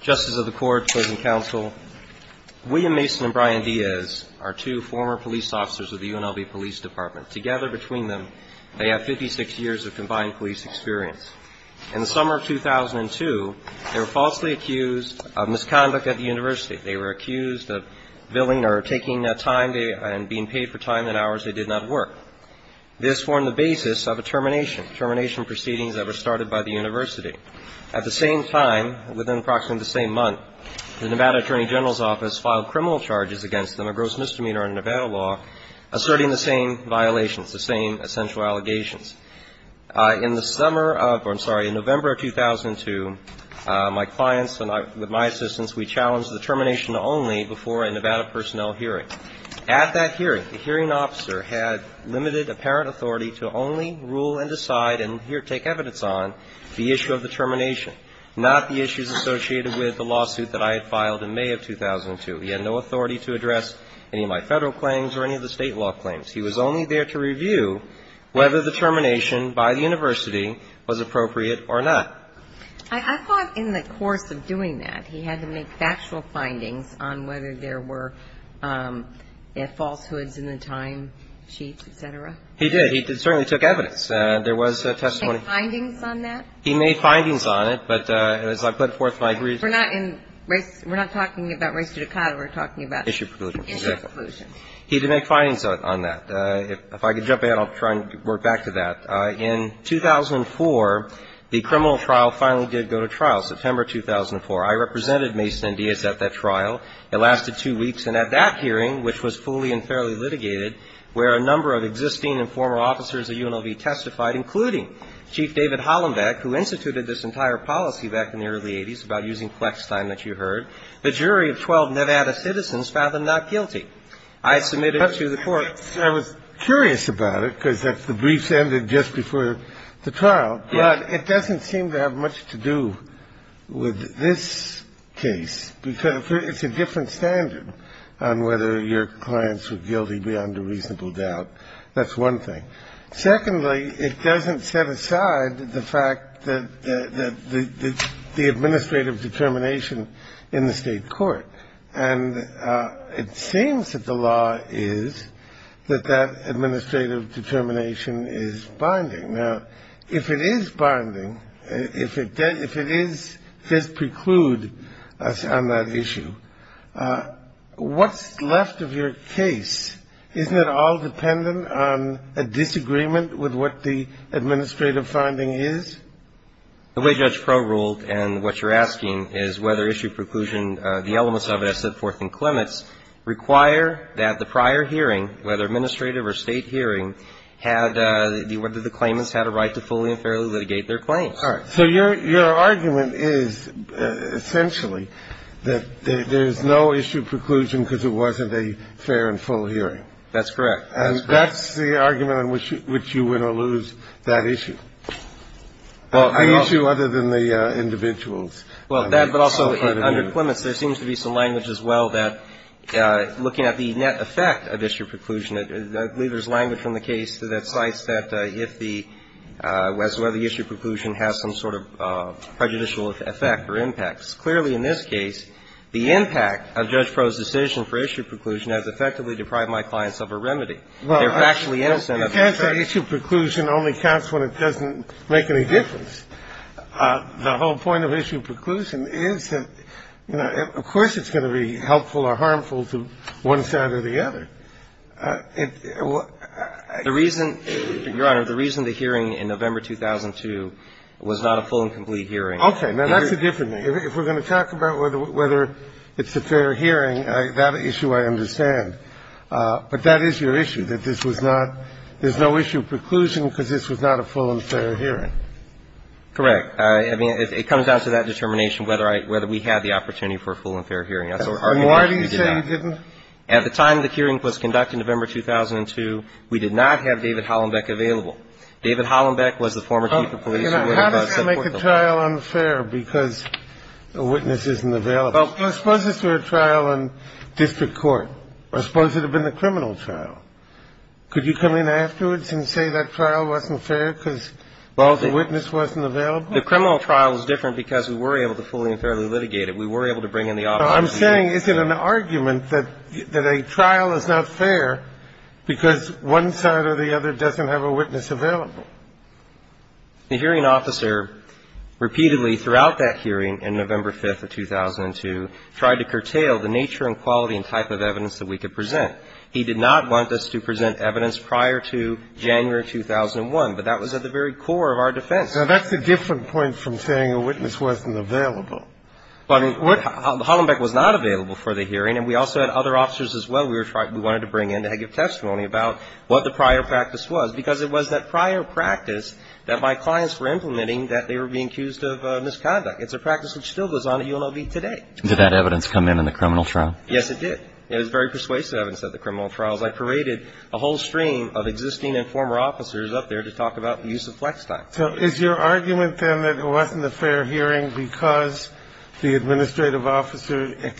Justice of the Court, Cousin Counsel, William Mason and Brian Diaz are two former police officers of the UNLV Police Department. Together between them, they have 56 years of combined police experience. In the summer of 2002, they were falsely accused of misconduct at the university. They were accused of billing or taking time and being paid for time and hours they did not work. This formed the basis of a termination, termination proceedings that were started by the university. At the same time, within approximately the same month, the Nevada Attorney General's Office filed criminal charges against them, a gross misdemeanor in Nevada law, asserting the same violations, the same essential allegations. In the summer of or, I'm sorry, in November of 2002, my clients and I, with my assistance, we challenged the termination only before a Nevada personnel hearing. At that hearing, the hearing officer had limited apparent authority to only rule and decide and here take evidence on the issue of the termination, not the issues associated with the lawsuit that I had filed in May of 2002. He had no authority to address any of my Federal claims or any of the State law claims. He was only there to review whether the termination by the university was appropriate or not. I thought in the course of doing that, he had to make factual findings on whether there were falsehoods in the time sheets, et cetera. He did. He certainly took evidence. There was testimony. Did he make findings on that? He made findings on it, but as I put forth my briefs. We're not in race. We're not talking about race judicata. We're talking about. Issue preclusion. Issue preclusion. He did make findings on that. If I could jump in, I'll try and work back to that. In 2004, the criminal trial finally did go to trial, September 2004. I represented Mason and Diaz at that trial. It lasted two weeks. And at that hearing, which was fully and fairly litigated, where a number of existing and former officers of UNLV testified, including Chief David Hollenbeck, who instituted this entire policy back in the early 80s about using flex time that you heard. The jury of 12 Nevada citizens found them not guilty. I submitted to the court. I was curious about it, because the briefs ended just before the trial. But it doesn't seem to have much to do with this case, because it's a different standard on whether your clients were guilty beyond a reasonable doubt. That's one thing. Secondly, it doesn't set aside the fact that the administrative determination in the state court. And it seems that the law is that that administrative determination is binding. Now, if it is binding, if it does preclude us on that issue, what's left of your case? Isn't it all dependent on a disagreement with what the administrative finding is? The way Judge Proulx ruled and what you're asking is whether issue preclusion, the elements of it I've set forth in Clements, require that the prior hearing, whether administrative or state hearing, had the claimants had a right to fully and fairly litigate their claims. All right. So your argument is, essentially, that there's no issue preclusion because it wasn't a fair and full hearing. That's correct. And that's the argument on which you win or lose that issue. Well, I mean, issue other than the individuals. Well, that, but also under Clements, there seems to be some language as well that looking at the net effect of issue preclusion, I believe there's language from the case that cites that if the issue preclusion has some sort of prejudicial effect or impact. Clearly, in this case, the impact of Judge Proulx's decision for issue preclusion has effectively deprived my clients of a remedy. They're factually innocent. Well, it can't say issue preclusion only counts when it doesn't make any difference. The whole point of issue preclusion is that, you know, of course it's going to be helpful or harmful to one side or the other. The reason, Your Honor, the reason the hearing in November 2002 was not a full and complete hearing. Okay. Now, that's a different thing. If we're going to talk about whether it's a fair hearing, that issue I understand. But that is your issue, that this was not – there's no issue of preclusion because this was not a full and fair hearing. Correct. I mean, it comes down to that determination whether I – whether we had the opportunity for a full and fair hearing. That's our argument that we did not. And why do you say you didn't? At the time the hearing was conducted in November 2002, we did not have David Hollenbeck available. David Hollenbeck was the former chief of police. Now, how does that make the trial unfair because a witness isn't available? Suppose this were a trial in district court. I suppose it would have been a criminal trial. Could you come in afterwards and say that trial wasn't fair because the witness wasn't available? Well, the criminal trial was different because we were able to fully and fairly litigate it. We were able to bring in the officer. I'm saying is it an argument that a trial is not fair because one side or the other doesn't have a witness available? The hearing officer repeatedly throughout that hearing in November 5th of 2002 tried to curtail the nature and quality and type of evidence that we could present. He did not want us to present evidence prior to January 2001, but that was at the very core of our defense. Now, that's a different point from saying a witness wasn't available. But Hollenbeck was not available for the hearing, and we also had other officers as well we were trying to bring in to give testimony about what the prior practice was, because it was that prior practice that my clients were implementing that they were being accused of misconduct. It's a practice that still goes on at UNLV today. Did that evidence come in in the criminal trial? Yes, it did. It was very persuasive evidence at the criminal trials. I paraded a whole stream of existing and former officers up there to talk about the use of flex time. So is your argument, then, that it wasn't a fair hearing because the administrative officer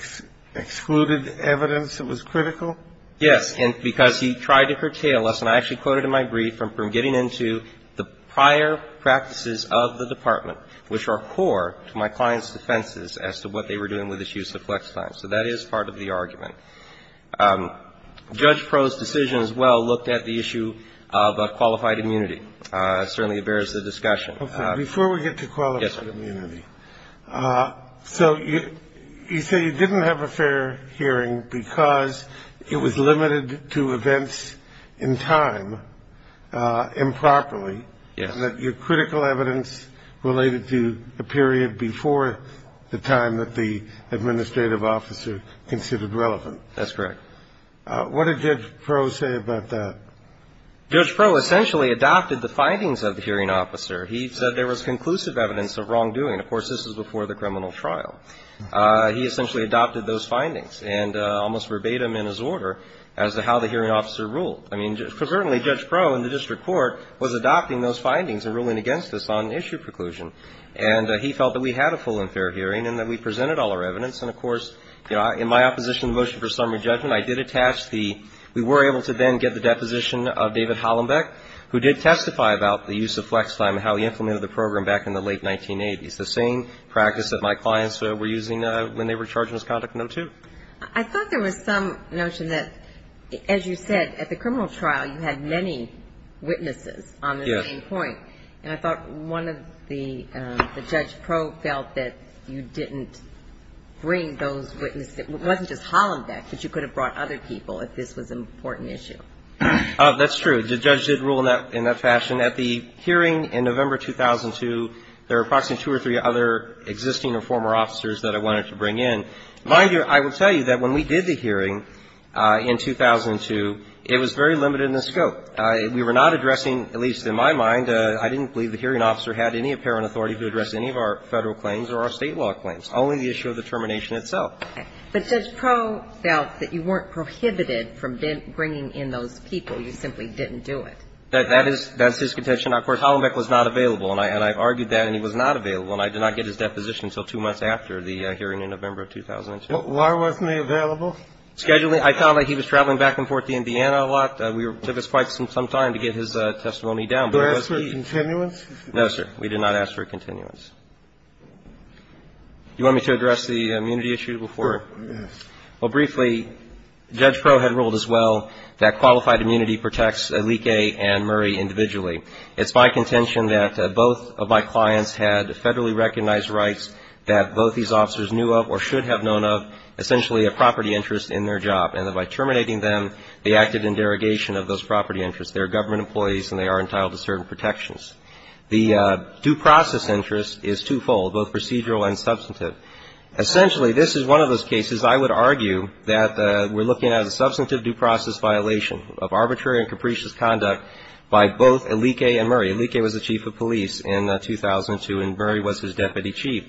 excluded evidence that was critical? Yes. And because he tried to curtail us, and I actually quoted in my brief, from getting into the prior practices of the department, which are core to my client's defenses as to what they were doing with this use of flex time. So that is part of the argument. Judge Proh's decision as well looked at the issue of qualified immunity. It certainly bears the discussion. Okay. Before we get to qualified immunity. Yes, sir. So you say you didn't have a fair hearing because it was limited to events in time improperly. Yes. And that your critical evidence related to the period before the time that the administrative officer considered relevant. That's correct. What did Judge Proh say about that? Judge Proh essentially adopted the findings of the hearing officer. He said there was conclusive evidence of wrongdoing. Of course, this is before the criminal trial. He essentially adopted those findings and almost verbatim in his order as to how the hearing officer ruled. I mean, certainly Judge Proh in the district court was adopting those findings and ruling against this on issue preclusion. And he felt that we had a full and fair hearing and that we presented all our evidence. And, of course, in my opposition to the motion for summary judgment, I did attach the we were able to then get the deposition of David Hollenbeck, who did testify about the use of flex time and how he implemented the program back in the late 1980s. The same practice that my clients were using when they were charged in this conduct in 1902. I thought there was some notion that, as you said, at the criminal trial you had many witnesses on the same point. And I thought one of the – the Judge Proh felt that you didn't bring those witnesses – it wasn't just Hollenbeck, but you could have brought other people if this was an important issue. That's true. The judge did rule in that fashion. And at the hearing in November 2002, there were approximately two or three other existing or former officers that I wanted to bring in. Mind you, I will tell you that when we did the hearing in 2002, it was very limited in the scope. We were not addressing, at least in my mind, I didn't believe the hearing officer had any apparent authority to address any of our Federal claims or our State law claims, only the issue of the termination itself. But Judge Proh felt that you weren't prohibited from bringing in those people. You simply didn't do it. That's his contention. Of course, Hollenbeck was not available. And I've argued that, and he was not available. And I did not get his deposition until two months after the hearing in November 2002. Why wasn't he available? Scheduling. I found that he was traveling back and forth to Indiana a lot. It took us quite some time to get his testimony down. Did you ask for a continuance? No, sir. We did not ask for a continuance. Do you want me to address the immunity issue before? Yes. Well, briefly, Judge Proh had ruled as well that qualified immunity protects Leakey and Murray individually. It's my contention that both of my clients had Federally recognized rights that both these officers knew of or should have known of, essentially a property interest in their job, and that by terminating them, they acted in derogation of those property interests. They are government employees and they are entitled to certain protections. The due process interest is twofold, both procedural and substantive. Essentially, this is one of those cases I would argue that we're looking at as a substantive due process violation of arbitrary and capricious conduct by both Leakey and Murray. Leakey was the chief of police in 2002 and Murray was his deputy chief.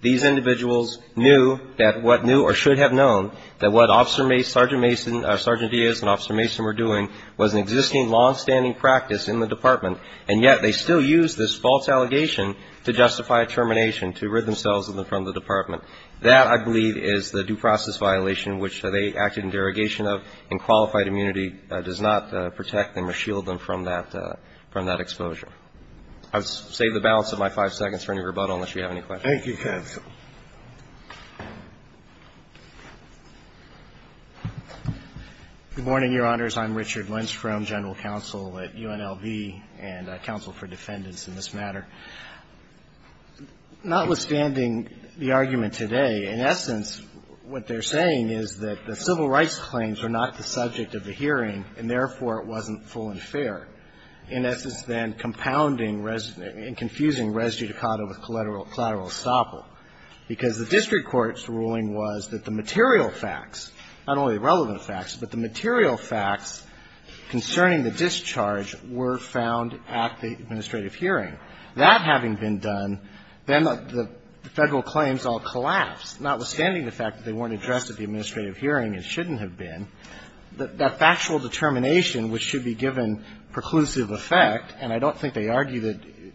These individuals knew that what knew or should have known that what Officer Mason, Sergeant Mason, Sergeant Diaz and Officer Mason were doing was an existing longstanding practice in the department, and yet they still used this false allegation to justify a termination, to rid themselves of them from the department. That, I believe, is the due process violation which they acted in derogation of, and qualified immunity does not protect them or shield them from that exposure. I'll save the balance of my five seconds for any rebuttal unless you have any questions. Thank you, counsel. Good morning, Your Honors. I'm Richard Lindstrom, General Counsel at UNLV and counsel for defendants in this matter. Notwithstanding the argument today, in essence, what they're saying is that the civil rights claims are not the subject of the hearing and, therefore, it wasn't full and fair, in essence, then compounding and confusing res judicata with collateral estoppel, because the district court's ruling was that the material facts, not only the relevant facts, but the material facts concerning the discharge were found at the administrative hearing. That having been done, then the Federal claims all collapsed, notwithstanding the fact that they weren't addressed at the administrative hearing and shouldn't have been. That factual determination which should be given preclusive effect, and I don't think they argue that you do.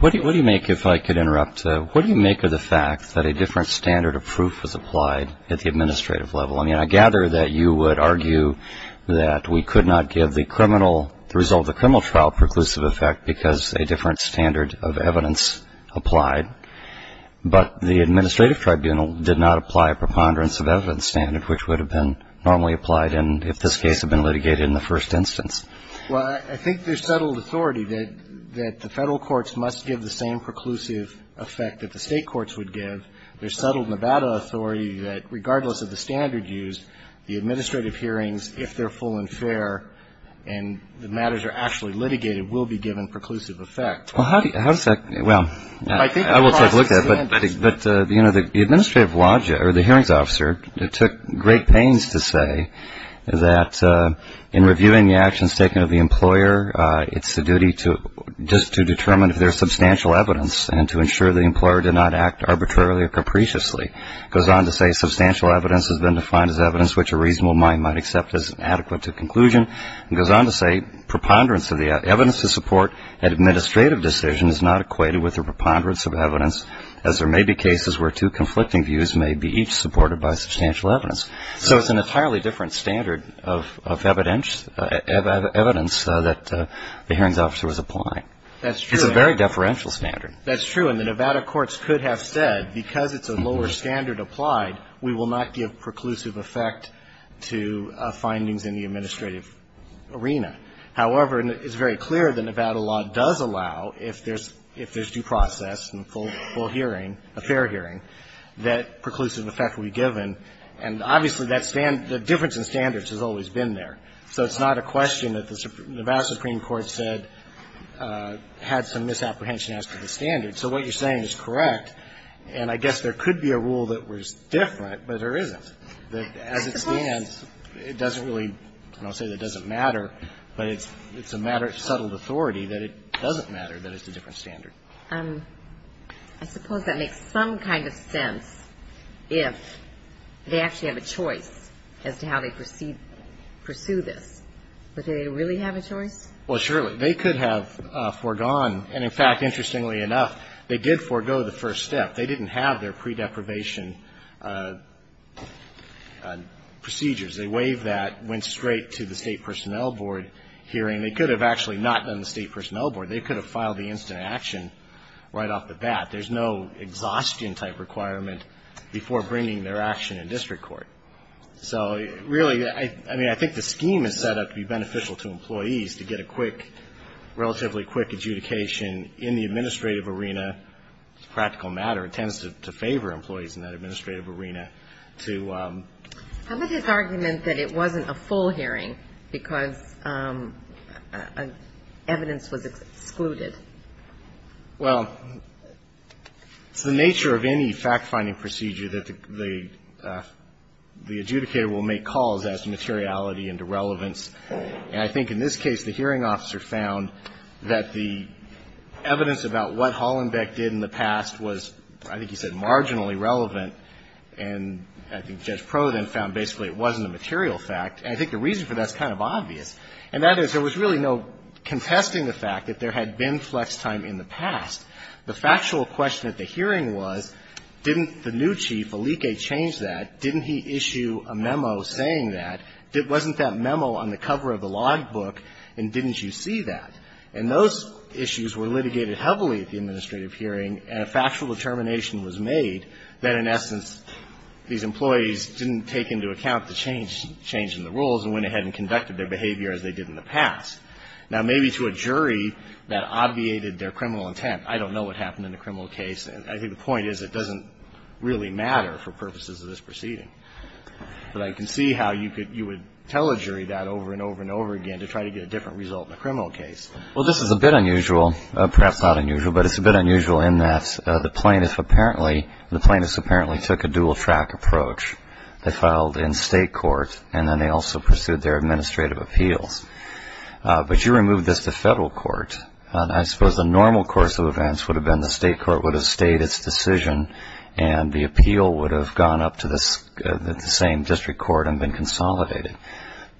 What do you make, if I could interrupt? What do you make of the fact that a different standard of proof was applied at the administrative level? I mean, I gather that you would argue that we could not give the criminal, the result of the criminal trial, preclusive effect because a different standard of evidence applied, but the administrative tribunal did not apply a preponderance of evidence standard which would have been normally applied if this case had been litigated in the first instance. Well, I think there's settled authority that the Federal courts must give the same preclusive effect that the State courts would give. There's settled Nevada authority that regardless of the standard used, the administrative hearings, if they're full and fair and the matters are actually litigated, will be given preclusive effect. Well, how does that – well, I will take a look at it. But, you know, the administrative – or the hearings officer took great pains to say that in reviewing the actions taken of the employer, it's the duty to – just to determine if there's substantial evidence and to ensure the employer did not act arbitrarily or capriciously. It goes on to say substantial evidence has been defined as evidence which a reasonable mind might accept as adequate to conclusion. It goes on to say preponderance of the evidence to support an administrative decision is not equated with a preponderance of evidence as there may be cases where two conflicting views may be each supported by substantial evidence. So it's an entirely different standard of evidence that the hearings officer was applying. That's true. It's a very deferential standard. That's true. And the Nevada courts could have said, because it's a lower standard applied, we will not give preclusive effect to findings in the administrative arena. However, it's very clear the Nevada law does allow, if there's due process and full hearing, a fair hearing, that preclusive effect will be given. And obviously, that – the difference in standards has always been there. So it's not a question that the Nevada Supreme Court said had some misapprehension as to the standard. So what you're saying is correct. And I guess there could be a rule that was different, but there isn't. As it stands, it doesn't really – I don't want to say that it doesn't matter, but it's a matter of subtle authority that it doesn't matter that it's a different standard. I suppose that makes some kind of sense if they actually have a choice as to how they pursue this. Would they really have a choice? Well, surely. They could have foregone – and in fact, interestingly enough, they did forego the first step. They didn't have their pre-deprivation procedures. They waived that, went straight to the State Personnel Board hearing. They could have actually not done the State Personnel Board. They could have filed the incident action right off the bat. There's no exhaustion-type requirement before bringing their action in district court. So really, I mean, I think the scheme is set up to be beneficial to employees, to get a quick, relatively quick adjudication in the administrative arena. It's a practical matter. It tends to favor employees in that administrative arena to – How about this argument that it wasn't a full hearing because evidence was excluded? Well, it's the nature of any fact-finding procedure that the adjudicator will make calls as to materiality and irrelevance. And I think in this case, the hearing officer found that the evidence about what Hollenbeck did in the past was, I think he said, marginally relevant. And I think Judge Proulx then found basically it wasn't a material fact. And I think the reason for that is kind of obvious. And that is, there was really no contesting the fact that there had been flex time in the past. The factual question at the hearing was, didn't the new chief, Alike, change that? Didn't he issue a memo saying that? Wasn't that memo on the cover of the logbook, and didn't you see that? And those issues were litigated heavily at the administrative hearing, and a factual determination was made that, in essence, these employees didn't take into account the change in the rules and went ahead and conducted their behavior as they did in the past. Now, maybe to a jury that obviated their criminal intent, I don't know what happened in the criminal case. I think the point is it doesn't really matter for purposes of this proceeding. But I can see how you would tell a jury that over and over and over again to try to get a different result in a criminal case. Well, this is a bit unusual, perhaps not unusual, but it's a bit unusual in that the plaintiff apparently took a dual track approach. They filed in state court, and then they also pursued their administrative appeals. But you removed this to federal court. I suppose the normal course of events would have been the state court would have stayed its decision, and the appeal would have gone up to the same district court and been consolidated.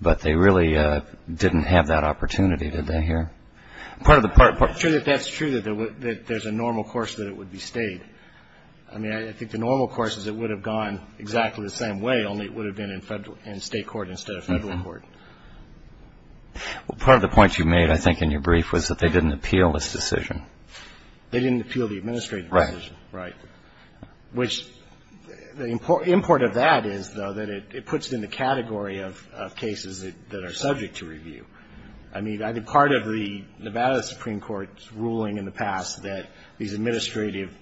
But they really didn't have that opportunity, did they here? I'm sure that that's true, that there's a normal course that it would be stayed. I mean, I think the normal course is it would have gone exactly the same way, only it would have been in state court instead of federal court. Well, part of the point you made, I think, in your brief was that they didn't appeal this decision. They didn't appeal the administrative decision. Right. Right. Which the import of that is, though, that it puts it in the category of cases that are subject to review. I mean, I think part of the Nevada Supreme Court's ruling in the past that these administrative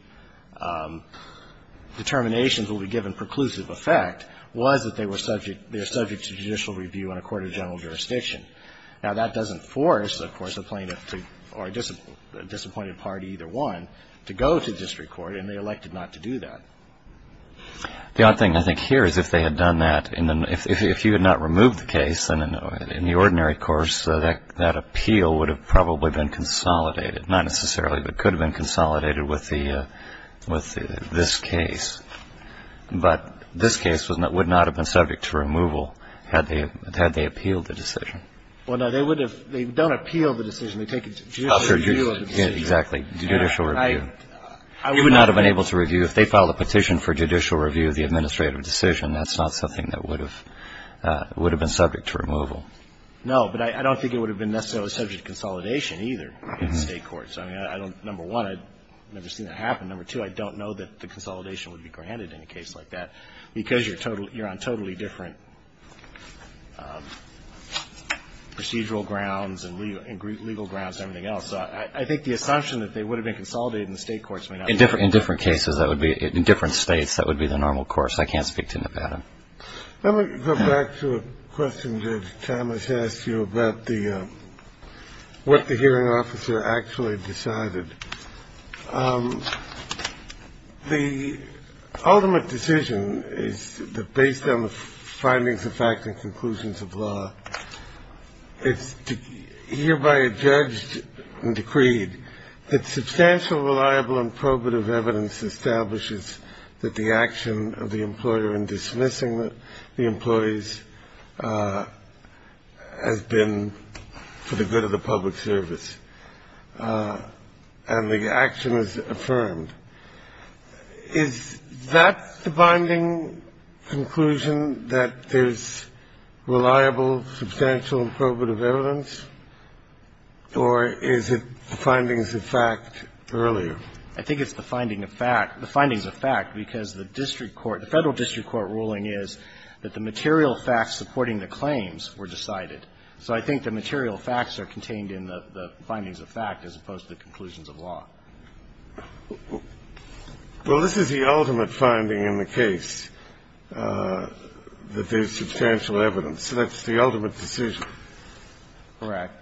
determinations will be given preclusive effect was that they were subject to judicial review in a court of general jurisdiction. Now, that doesn't force, of course, a plaintiff or a disappointed party, either one, to go to district court, and they elected not to do that. The odd thing, I think, here is if they had done that, if you had not removed the case, then in the ordinary course, that appeal would have probably been consolidated, not necessarily, but could have been consolidated with this case. But this case would not have been subject to removal had they appealed the decision. Well, no, they would have. They don't appeal the decision. They take a judicial review of the decision. Exactly. Judicial review. I would not have been able to review. If they filed a petition for judicial review of the administrative decision, that's not something that would have been subject to removal. No. But I don't think it would have been necessarily subject to consolidation, either, in the State courts. I mean, I don't, number one, I've never seen that happen. Number two, I don't know that the consolidation would be granted in a case like that because you're on totally different procedural grounds and legal grounds and everything else. I think the assumption that they would have been consolidated in the State courts may not be true. In different cases, that would be, in different States, that would be the normal course. I can't speak to Nevada. Let me go back to a question Judge Thomas asked you about the, what the hearing officer actually decided. The ultimate decision is that based on the findings of fact and conclusions of law, it's hereby adjudged and decreed that substantial, reliable, and probative evidence establishes that the action of the employer in dismissing the employees has been for the good of the public service. And the action is affirmed. Is that the binding conclusion, that there's reliable, substantial, and probative evidence, or is it the findings of fact earlier? I think it's the finding of fact. The findings of fact, because the district court, the Federal district court ruling is that the material facts supporting the claims were decided. So I think the material facts are contained in the findings of fact as opposed to the conclusions of law. Well, this is the ultimate finding in the case, that there's substantial evidence. That's the ultimate decision. Correct.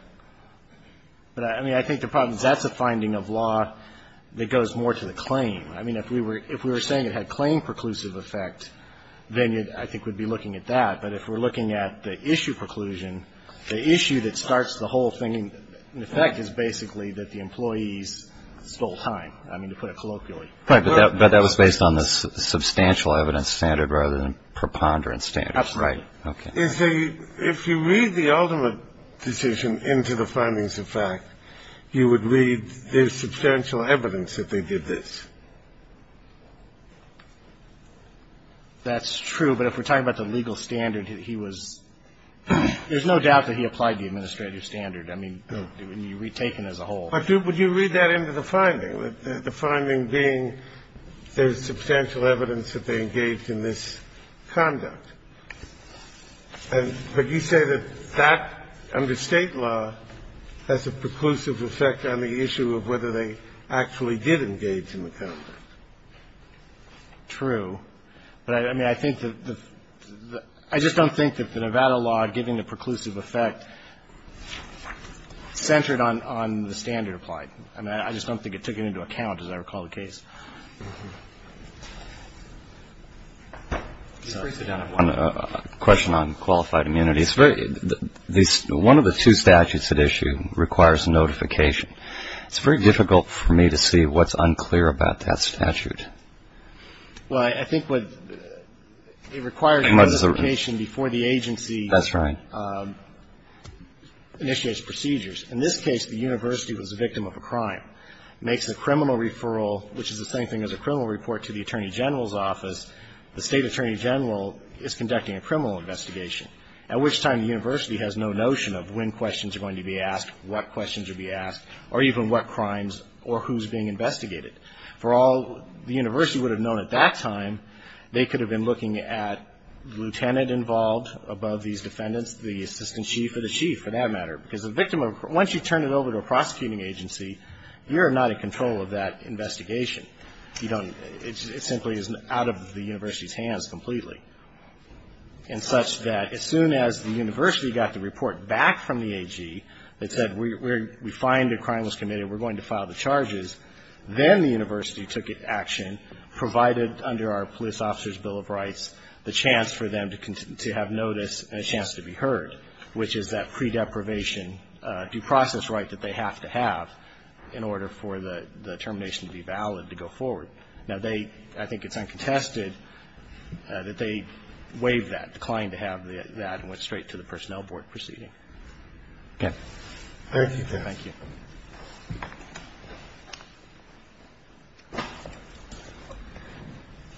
But, I mean, I think the problem is that's a finding of law that goes more to the claim. I mean, if we were saying it had claim preclusive effect, then it, I think, would be looking at that. But if we're looking at the issue preclusion, the issue that starts the whole thing in effect is basically that the employees stole time. I mean, to put it colloquially. Right. But that was based on the substantial evidence standard rather than preponderance standard. That's right. Okay. If you read the ultimate decision into the findings of fact, you would read there's substantial evidence that they did this. That's true, but if we're talking about the legal standard, he was – there's no doubt that he applied the administrative standard. I mean, it would be retaken as a whole. But would you read that into the finding? The finding being there's substantial evidence that they engaged in this conduct. And would you say that that, under State law, has a preclusive effect on the issue of whether they actually did engage in the conduct? True. But, I mean, I think the – I just don't think that the Nevada law giving the preclusive effect centered on the standard applied. I mean, I just don't think it took it into account, as I recall the case. Could you please sit down? I have one question on qualified immunity. It's very – one of the two statutes at issue requires notification. It's very difficult for me to see what's unclear about that statute. Well, I think what – it requires notification before the agency initiates procedures. That's right. In this case, the university was a victim of a crime, makes a criminal referral, which is the same thing as a criminal report to the Attorney General's office. The State Attorney General is conducting a criminal investigation, at which time the university has no notion of when questions are going to be asked, what questions are going to be asked, or even what crimes or who's being investigated. For all the university would have known at that time, they could have been looking at the lieutenant involved above these defendants, the assistant chief or the chief, for that matter. Because a victim of – once you turn it over to a prosecuting agency, you're not in control of that investigation. You don't – it simply is out of the university's hands completely. And such that as soon as the university got the report back from the AG that said we find a crime was committed, we're going to file the charges, then the university took action, provided under our police officer's bill of rights, the chance for them to have notice and a chance to be heard, which is that pre-deprivation due process right that they have to have in order for the termination to be valid to go forward. Now, they – I think it's uncontested that they waived that, declined to have that and went straight to the personnel board proceeding. Okay. Thank you, sir. Thank you.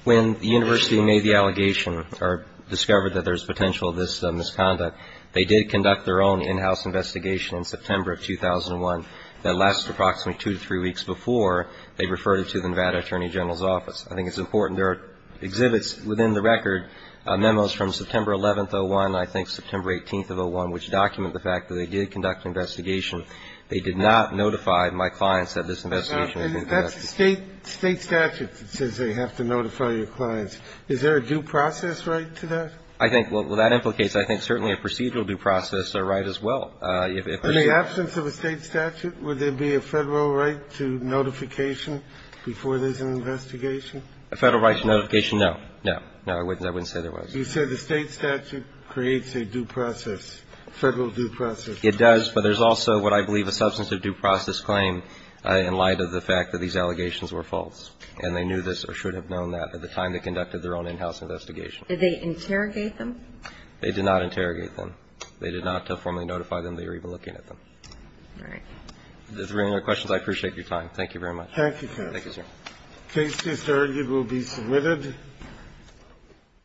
When the university made the allegation or discovered that there's potential of this misconduct, they did conduct their own in-house investigation in September of 2001 that lasted approximately two to three weeks before they referred it to the Nevada Attorney General's office. I think it's important. There are exhibits within the record, memos from September 11th of 2001 and I think September 18th of 2001, which document the fact that they did conduct an investigation. They did not notify my clients that this investigation had been conducted. That's a state statute that says they have to notify your clients. Is there a due process right to that? I think – well, that implicates, I think, certainly a procedural due process right as well. In the absence of a state statute, would there be a Federal right to notification before there's an investigation? A Federal right to notification? No. No. No, I wouldn't say there was. You said the state statute creates a due process, Federal due process. It does, but there's also what I believe a substantive due process claim in light of the fact that these allegations were false, and they knew this or should have known that at the time they conducted their own in-house investigation. Did they interrogate them? They did not interrogate them. They did not formally notify them. They were even looking at them. All right. If there are any other questions, I appreciate your time. Thank you very much. Thank you, counsel. Thank you, sir. The case is heard. It will be submitted. Thank you.